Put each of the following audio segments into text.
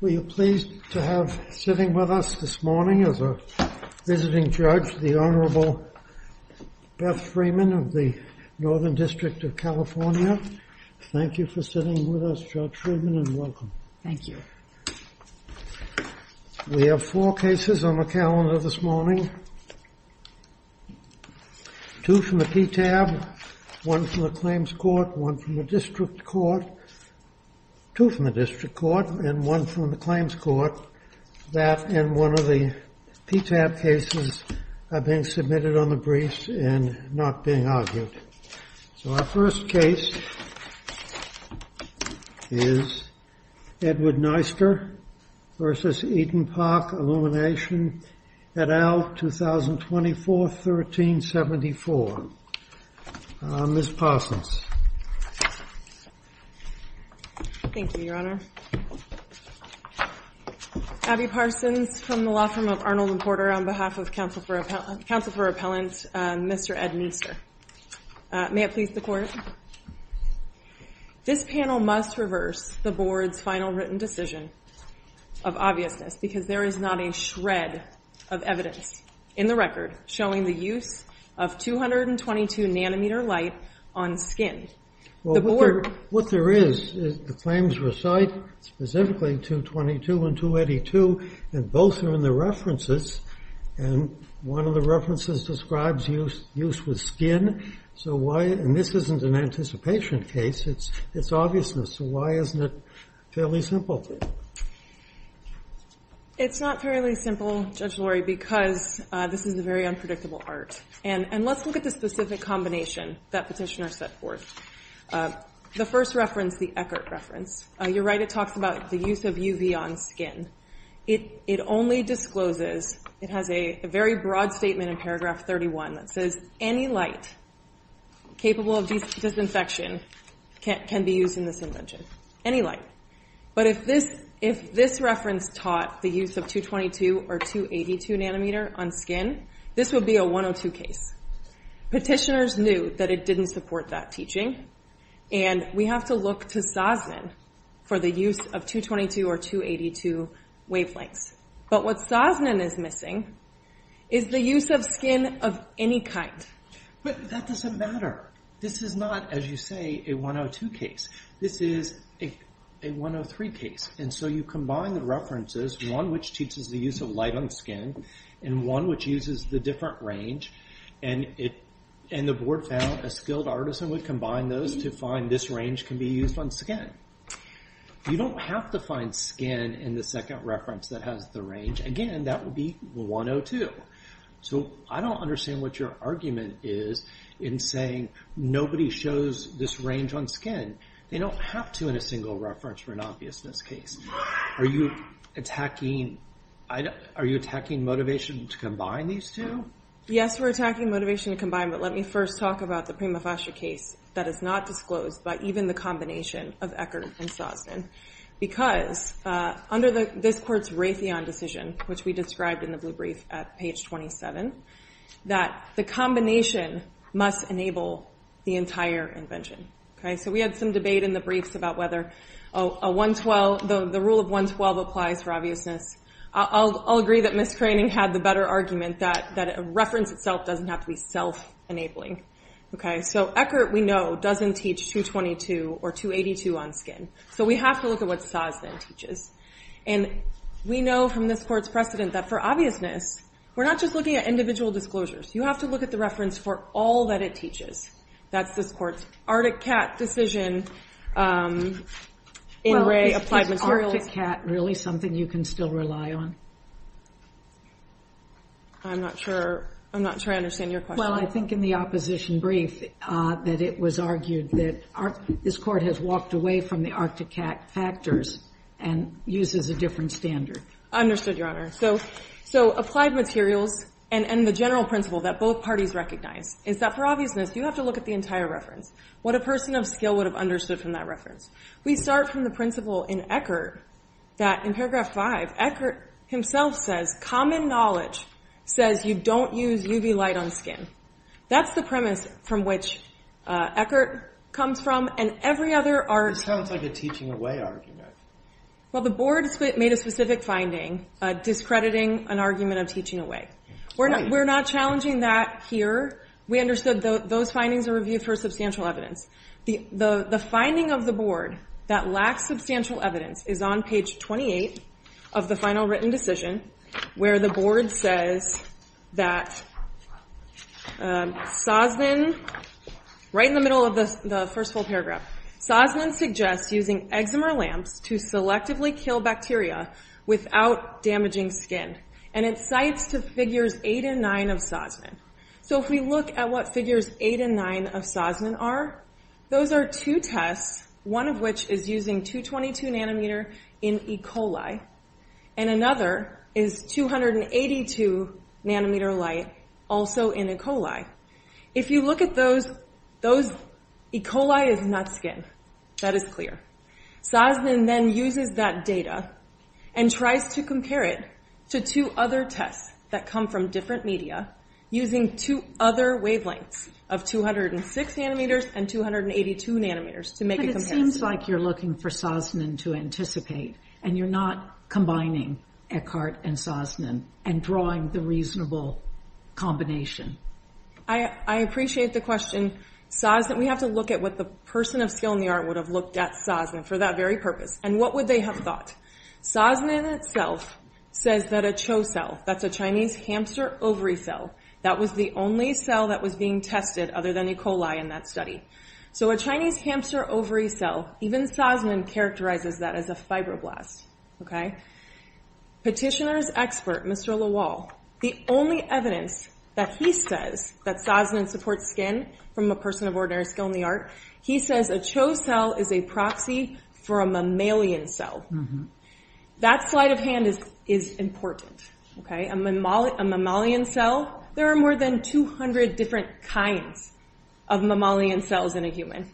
Were you pleased to have sitting with us this morning as a visiting judge, the Honorable Beth Freeman of the Northern District of California? Thank you for sitting with us, Judge Freeman, and welcome. Thank you. We have four cases on the calendar this morning, two from the PTAB, one from the Claims Court, one from the District Court, two from the District Court, and one from the Claims Court. That and one of the PTAB cases are being submitted on the briefs and not being argued. So our first case is Edward Neister v. Eden Park Illumination et al., 2024, 1374. Ms. Parsons. Thank you, Your Honor. Abby Parsons from the Law Firm of Arnold and Porter on behalf of Counsel for Appellant Mr. Ed Neister. May it please the Court, this panel must reverse the Board's final written decision of obviousness because there is not a shred of evidence in the record showing the use of 222 nanometer light on skin. What there is is the claims recite specifically 222 and 282, and both are in the references, and one of the references describes use with skin. So why, and this isn't an anticipation case, it's obviousness, so why isn't it fairly simple? It's not fairly simple, Judge Lori, because this is a very unpredictable art. And let's look at the specific combination that Petitioner set forth. The first reference, the Eckert reference, you're right, it talks about the use of UV on skin. It only discloses, it has a very broad statement in paragraph 31 that says, any light capable of disinfection can be used in this invention, any light. But if this reference taught the use of 222 or 282 nanometer on skin, this would be a 102 case. Petitioners knew that it didn't support that teaching, and we have to look to Sosnin for the use of 222 or 282 wavelengths. But what Sosnin is missing is the use of skin of any kind. But that doesn't matter. This is not, as you say, a 102 case. This is a 103 case, and so you combine the references, one which teaches the use of light on skin, and one which uses the different range, and the board found a skilled artisan would combine those to find this range can be used on skin. You don't have to find skin in the second reference that has the range. Again, that would be 102. So I don't understand what your argument is in saying nobody shows this range on skin. They don't have to in a single reference for an obviousness case. Are you attacking motivation to combine these two? Yes, we're attacking motivation to combine, but let me first talk about the Prima Fascia case that is not disclosed by even the combination of Eckerd and Sosnin, because under this court's Raytheon decision, which we described in the blue brief at page 27, that the combination must enable the entire invention. So we had some debate in the briefs about whether the rule of 112 applies for obviousness. I'll agree that Ms. Craning had the better argument that a reference itself doesn't have to be self-enabling. So Eckert, we know, doesn't teach 222 or 282 on skin. So we have to look at what Sosnin teaches. And we know from this court's precedent that for obviousness, we're not just looking at individual disclosures. You have to look at the reference for all that it teaches. That's this court's Arctic Cat decision in Raytheon. Is Arctic Cat really something you can still rely on? I'm not sure. I'm not sure I understand your question. Well, I think in the opposition brief that it was argued that this court has walked away from the Arctic Cat factors and uses a different standard. Understood, Your Honor. So applied materials and the general principle that both parties recognize is that for obviousness, you have to look at the entire reference, what a person of skill would have understood from that reference. We start from the principle in Eckert that in Paragraph 5, Eckert himself says, common knowledge says you don't use UV light on skin. That's the premise from which Eckert comes from. It sounds like a teaching away argument. Well, the board made a specific finding discrediting an argument of teaching away. We're not challenging that here. We understood those findings are reviewed for substantial evidence. The finding of the board that lacks substantial evidence is on page 28 of the final written decision where the board says that Sosnin, right in the middle of the first full paragraph, Sosnin suggests using eczema lamps to selectively kill bacteria without damaging skin, and it cites to Figures 8 and 9 of Sosnin. So if we look at what Figures 8 and 9 of Sosnin are, those are two tests, one of which is using 222 nanometer in E. coli, and another is 282 nanometer light also in E. coli. If you look at those, E. coli is not skin. That is clear. Sosnin then uses that data and tries to compare it to two other tests that come from different media using two other wavelengths of 206 nanometers and 282 nanometers to make a comparison. But it seems like you're looking for Sosnin to anticipate, and you're not combining Eckhart and Sosnin and drawing the reasonable combination. I appreciate the question. We have to look at what the person of skill in the art would have looked at Sosnin for that very purpose, and what would they have thought. Sosnin itself says that a Cho cell, that's a Chinese hamster ovary cell, that was the only cell that was being tested other than E. coli in that study. So a Chinese hamster ovary cell, even Sosnin characterizes that as a fibroblast. Petitioner's expert, Mr. Lawal, the only evidence that he says that Sosnin supports skin from a person of ordinary skill in the art, he says a Cho cell is a proxy for a mammalian cell. That sleight of hand is important. A mammalian cell, there are more than 200 different kinds of mammalian cells in a human.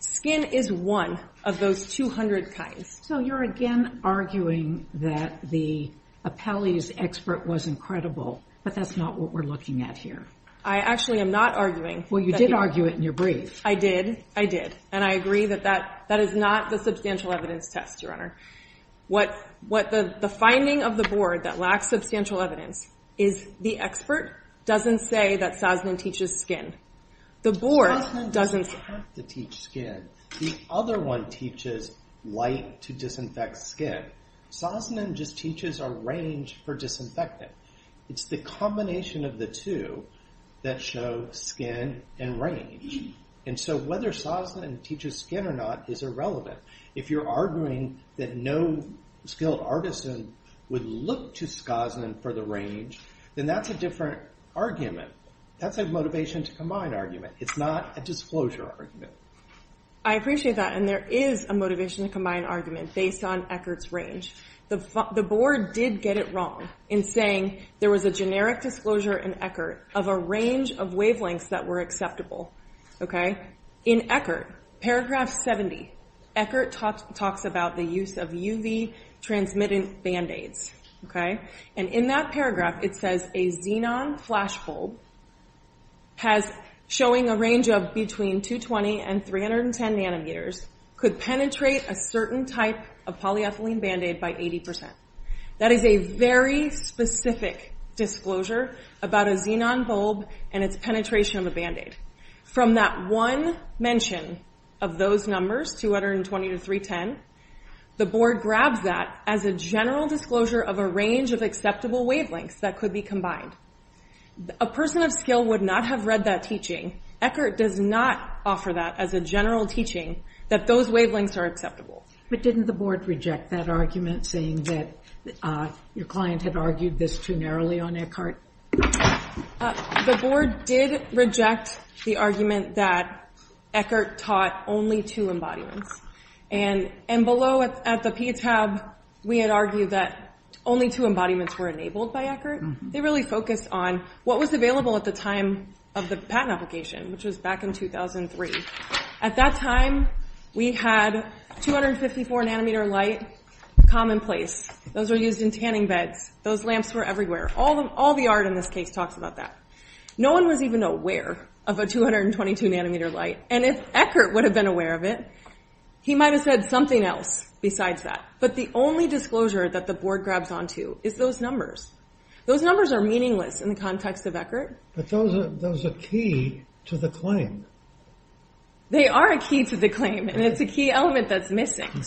Skin is one of those 200 kinds. So you're again arguing that the Apelles expert was incredible, but that's not what we're looking at here. I actually am not arguing. Well, you did argue it in your brief. I did, I did, and I agree that that is not the substantial evidence test, Your Honor. What the finding of the board that lacks substantial evidence is the expert doesn't say that Sosnin teaches skin. Sosnin doesn't have to teach skin. The other one teaches light to disinfect skin. Sosnin just teaches a range for disinfectant. It's the combination of the two that show skin and range. And so whether Sosnin teaches skin or not is irrelevant. If you're arguing that no skilled artisan would look to Sosnin for the range, then that's a different argument. That's a motivation to combine argument. It's not a disclosure argument. I appreciate that, and there is a motivation to combine argument based on Eckert's range. The board did get it wrong in saying there was a generic disclosure in Eckert of a range of wavelengths that were acceptable. In Eckert, paragraph 70, Eckert talks about the use of UV transmitted band-aids. And in that paragraph, it says a xenon flash bulb showing a range of between 220 and 310 nanometers could penetrate a certain type of polyethylene band-aid by 80%. That is a very specific disclosure about a xenon bulb and its penetration of a band-aid. From that one mention of those numbers, 220 to 310, the board grabs that as a general disclosure of a range of acceptable wavelengths that could be combined. A person of skill would not have read that teaching. Eckert does not offer that as a general teaching that those wavelengths are acceptable. But didn't the board reject that argument saying that your client had argued this too narrowly on Eckert? The board did reject the argument that Eckert taught only two embodiments. And below at the P tab, we had argued that only two embodiments were enabled by Eckert. They really focused on what was available at the time of the patent application, which was back in 2003. At that time, we had 254 nanometer light commonplace. Those were used in tanning beds. Those lamps were everywhere. All the art in this case talks about that. No one was even aware of a 222 nanometer light. And if Eckert would have been aware of it, he might have said something else besides that. But the only disclosure that the board grabs onto is those numbers. Those numbers are meaningless in the context of Eckert. But those are key to the claim. They are a key to the claim, and it's a key element that's missing. In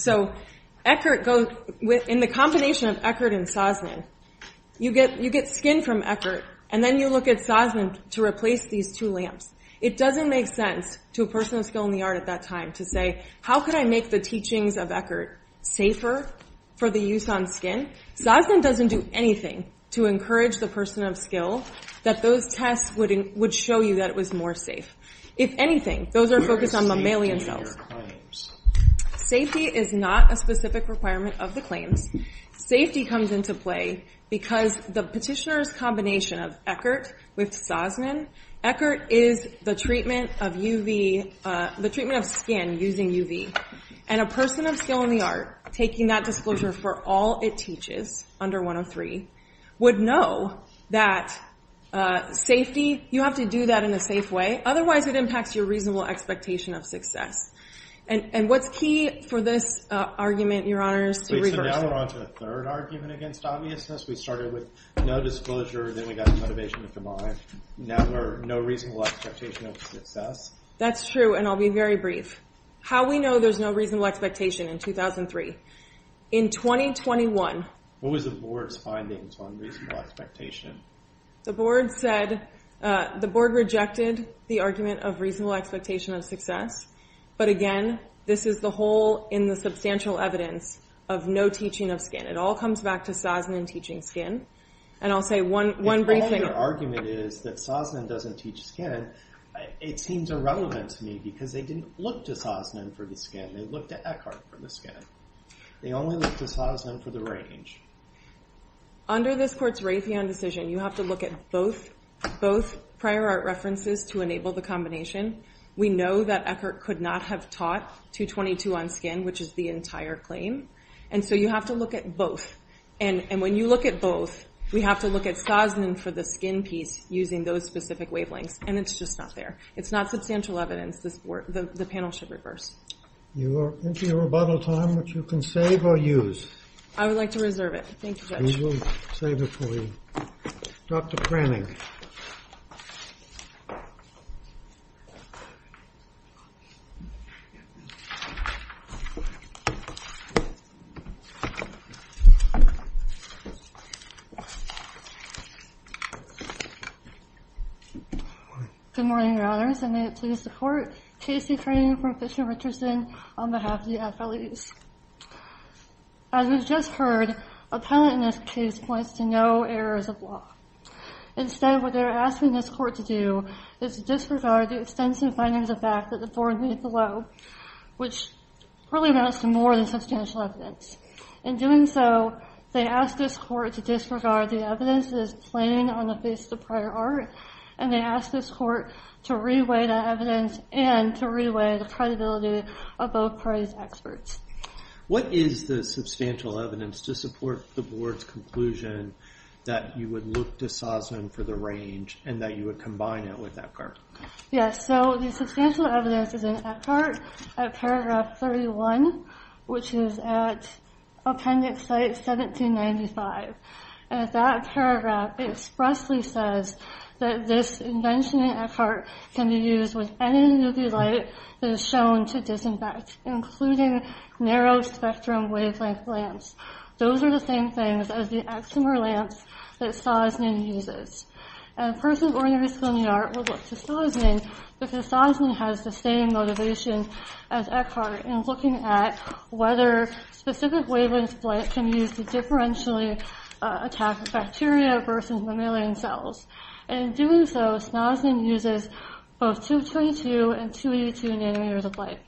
the combination of Eckert and Sosnin, you get skin from Eckert, and then you look at Sosnin to replace these two lamps. It doesn't make sense to a person of skill in the art at that time to say, how could I make the teachings of Eckert safer for the use on skin? Sosnin doesn't do anything to encourage the person of skill that those tests would show you that it was more safe. If anything, those are focused on Mommalian cells. Safety is not a specific requirement of the claims. Safety comes into play because the petitioner's combination of Eckert with Sosnin, Eckert is the treatment of UV, the treatment of skin using UV. And a person of skill in the art taking that disclosure for all it teaches under 103 would know that safety, you have to do that in a safe way. Otherwise, it impacts your reasonable expectation of success. And what's key for this argument, Your Honors, to reverse it? So now we're on to the third argument against obviousness. We started with no disclosure, then we got the motivation to combine. Now we're no reasonable expectation of success. That's true, and I'll be very brief. How we know there's no reasonable expectation in 2003. In 2021. What was the board's findings on reasonable expectation? The board said, the board rejected the argument of reasonable expectation of success. But again, this is the hole in the substantial evidence of no teaching of skin. It all comes back to Sosnin teaching skin. And I'll say one brief thing. If all your argument is that Sosnin doesn't teach skin, it seems irrelevant to me because they didn't look to Sosnin for the skin, they looked to Eckert for the skin. They only looked to Sosnin for the range. Under this court's Raytheon decision, you have to look at both prior art references to enable the combination. We know that Eckert could not have taught 222 on skin, which is the entire claim. And so you have to look at both. And when you look at both, we have to look at Sosnin for the skin piece using those specific wavelengths. And it's just not there. It's not substantial evidence the panel should reverse. You are into your rebuttal time, which you can save or use. I would like to reserve it. Thank you, Judge. We will save it for you. Dr. Cranning. Good morning, Your Honors, and may it please the Court. Casey Cranning from Fisher Richardson on behalf of the FLEs. As we've just heard, a penalty in this case points to no errors of law. Instead, what they're asking this Court to do is to disregard the extensive findings of fact that the Board made below, which really amounts to more than substantial evidence. In doing so, they ask this Court to disregard the evidence that is plain on the face of the prior art, and they ask this Court to reweigh that evidence and to reweigh the credibility of both parties' experts. What is the substantial evidence to support the Board's conclusion that you would look to Sosnin for the range and that you would combine it with Eckhart? Yes, so the substantial evidence is in Eckhart at paragraph 31, which is at appendix site 1795. And that paragraph expressly says that this invention in Eckhart can be used with any nucleolite that is shown to disinfect, including narrow-spectrum wavelength lamps. Those are the same things as the eczema lamps that Sosnin uses. A person born in Risco, New York, would look to Sosnin because Sosnin has the same motivation as Eckhart in looking at whether specific wavelengths of light can be used to differentially attack bacteria versus mammalian cells. And in doing so, Sosnin uses both 222 and 282 nanometers of light.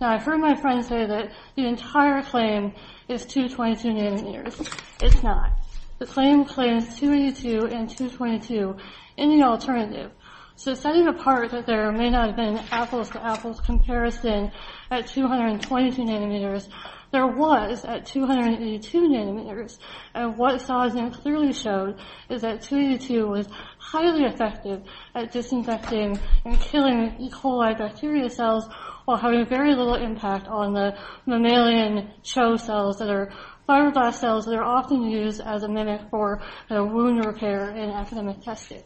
Now, I've heard my friend say that the entire claim is 222 nanometers. It's not. The claim claims 282 and 222 in the alternative. So setting apart that there may not have been an apples-to-apples comparison at 222 nanometers, there was at 282 nanometers, and what Sosnin clearly showed is that 282 was highly effective at disinfecting and killing E. coli bacteria cells while having very little impact on the mammalian CHO cells that are fibroblast cells that are often used as a mimic for wound repair in academic testing.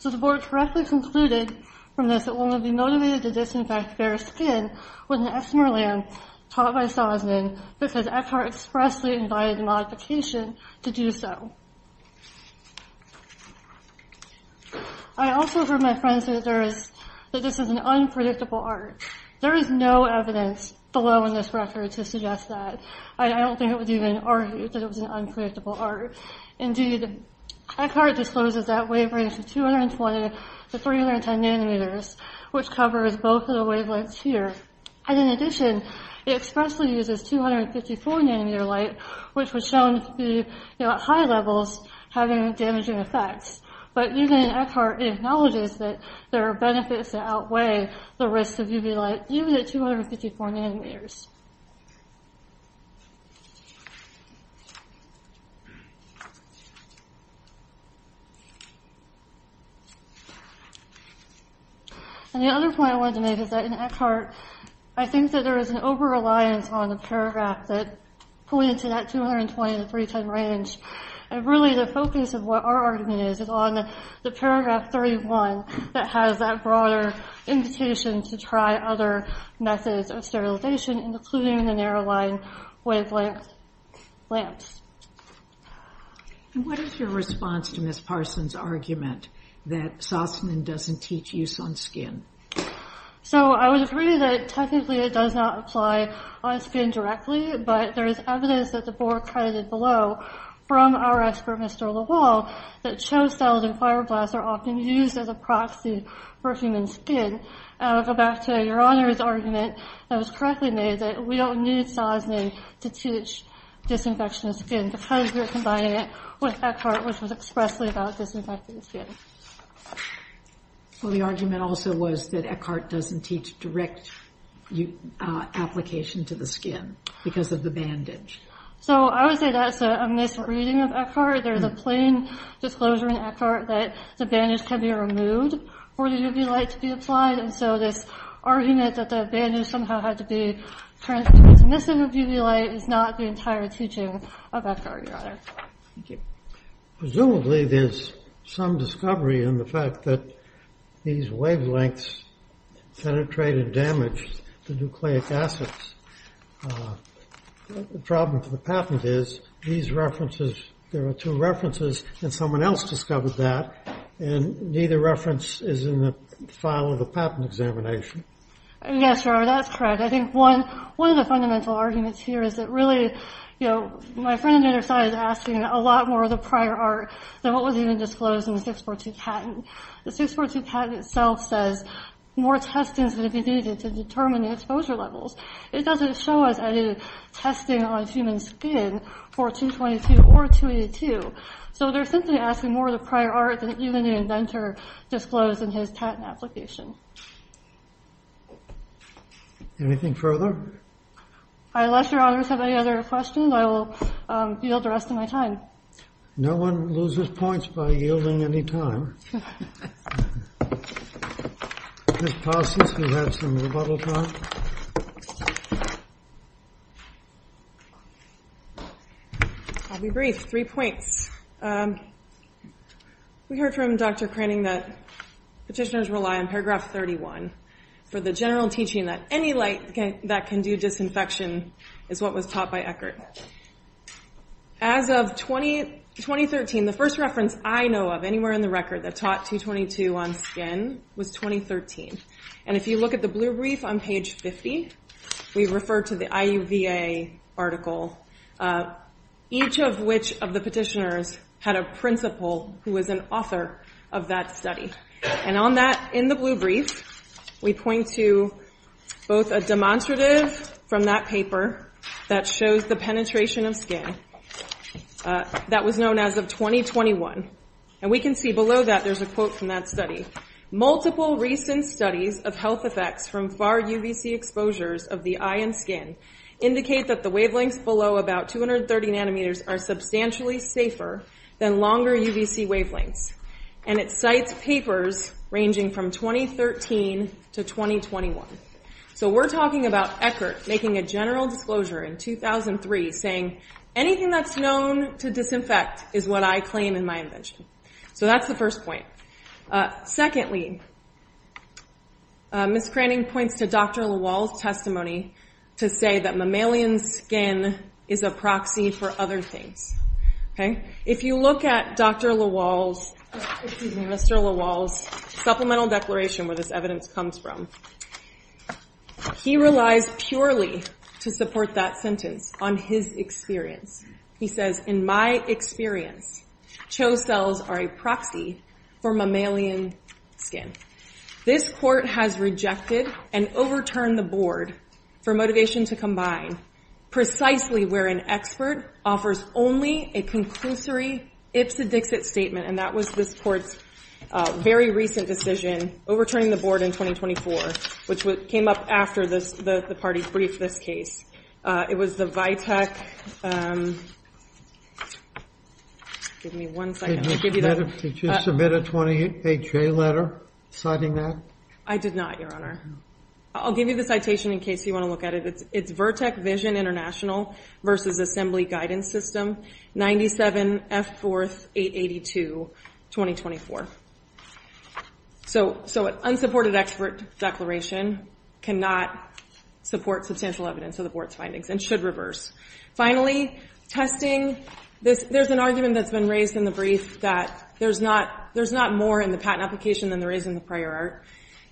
So the board correctly concluded from this that one would be motivated to disinfect bare skin with an Esmeralda taught by Sosnin because Eckhart expressly invited modification to do so. I also heard my friends say that this is an unpredictable arc. There is no evidence below in this record to suggest that. I don't think it was even argued that it was an unpredictable arc. Indeed, Eckhart discloses that wavelength of 220 to 310 nanometers, which covers both of the wavelengths here. And in addition, it expressly uses 254 nanometer light, which was shown to be at high levels having damaging effects. But even Eckhart acknowledges that there are benefits that outweigh the risks of UV light, even at 254 nanometers. And the other point I wanted to make is that in Eckhart, I think that there is an over-reliance on the paragraph that points to that 220 to 310 range. And really the focus of what our argument is is on the paragraph 31 that has that broader invitation to try other methods of sterilization, including the narrow line wavelength lamps. And what is your response to Ms. Parsons' argument that Sosnin doesn't teach use on skin? So I would agree that technically it does not apply on skin directly, but there is evidence at the board credited below from our expert, Mr. Lawal, that show cells and fibroblasts are often used as a proxy for human skin. I would go back to Your Honor's argument that was correctly made, that we don't need Sosnin to teach disinfection of skin because we're combining it with Eckhart, which was expressly about disinfecting skin. Well, the argument also was that Eckhart doesn't teach direct application to the skin because of the bandage. So I would say that's a misreading of Eckhart. There's a plain disclosure in Eckhart that the bandage can be removed for the UV light to be applied, and so this argument that the bandage somehow had to be transmitted to the missing of UV light is not the entire teaching of Eckhart, Your Honor. Thank you. Presumably there's some discovery in the fact that these wavelengths penetrate and damage the nucleic acids. The problem for the patent is these references, there are two references, and someone else discovered that, and neither reference is in the file of the patent examination. Yes, Your Honor, that's correct. I think one of the fundamental arguments here is that really, you know, my friend on the other side is asking a lot more of the prior art than what was even disclosed in the 642 patent. The 642 patent itself says more testing is going to be needed to determine the exposure levels. It doesn't show us any testing on human skin for 222 or 282. So they're simply asking more of the prior art than even the inventor disclosed in his patent application. Anything further? Unless Your Honors have any other questions, I will yield the rest of my time. No one loses points by yielding any time. Ms. Paulson, do you have some rebuttal time? I'll be brief. Three points. We heard from Dr. Cranning that petitioners rely on paragraph 31 for the general teaching that any light that can do disinfection is what was taught by Eckert. As of 2013, the first reference I know of anywhere in the record that taught 222 on skin was 2013. And if you look at the blue brief on page 50, we refer to the IUVA article, each of which of the petitioners had a principal who was an author of that study. And on that, in the blue brief, we point to both a demonstrative from that paper that shows the penetration of skin that was known as of 2021. And we can see below that there's a quote from that study. Multiple recent studies of health effects from far UVC exposures of the eye and skin indicate that the wavelengths below about 230 nanometers are substantially safer than longer UVC wavelengths. And it cites papers ranging from 2013 to 2021. So we're talking about Eckert making a general disclosure in 2003 saying anything that's known to disinfect is what I claim in my invention. So that's the first point. Secondly, Ms. Cranning points to Dr. Lawal's testimony to say that mammalian skin is a proxy for other things. If you look at Dr. Lawal's, excuse me, Mr. Lawal's supplemental declaration where this evidence comes from, he relies purely to support that sentence on his experience. He says, in my experience, CHO cells are a proxy for mammalian skin. This court has rejected and overturned the board for motivation to combine precisely where an expert offers only a conclusory ipsa dixit statement. And that was this court's very recent decision, overturning the board in 2024, which came up after the party briefed this case. It was the Vitek. Give me one second. Did you submit a 28-H letter citing that? I did not, Your Honor. I'll give you the citation in case you want to look at it. It's Vertec Vision International versus Assembly Guidance System, 97F4882, 2024. So an unsupported expert declaration cannot support substantial evidence of the board's findings and should reverse. Finally, testing. There's an argument that's been raised in the brief that there's not more in the patent application than there is in the prior art.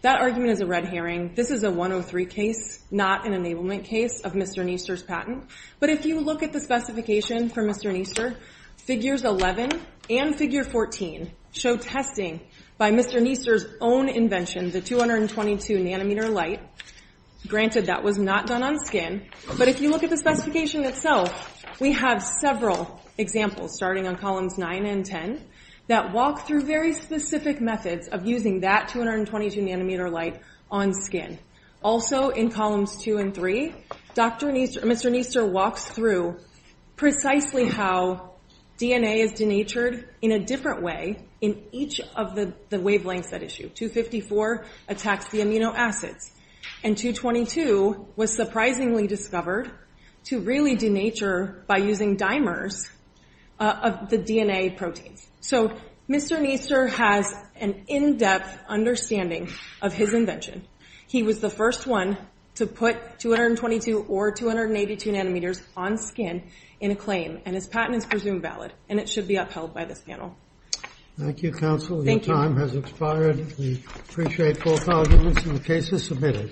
That argument is a red herring. This is a 103 case, not an enablement case of Mr. Niester's patent. But if you look at the specification for Mr. Niester, figures 11 and figure 14 show testing by Mr. Niester's own invention, the 222 nanometer light. Granted, that was not done on skin. But if you look at the specification itself, we have several examples, starting on columns 9 and 10, that walk through very specific methods of using that 222 nanometer light on skin. Also, in columns 2 and 3, Mr. Niester walks through precisely how DNA is denatured in a different way in each of the wavelengths at issue. 254 attacks the amino acids. And 222 was surprisingly discovered to really denature by using dimers of the DNA proteins. So Mr. Niester has an in-depth understanding of his invention. He was the first one to put 222 or 282 nanometers on skin in a claim. And his patent is presumed valid. And it should be upheld by this panel. Thank you, counsel. Your time has expired. We appreciate both arguments and the cases submitted.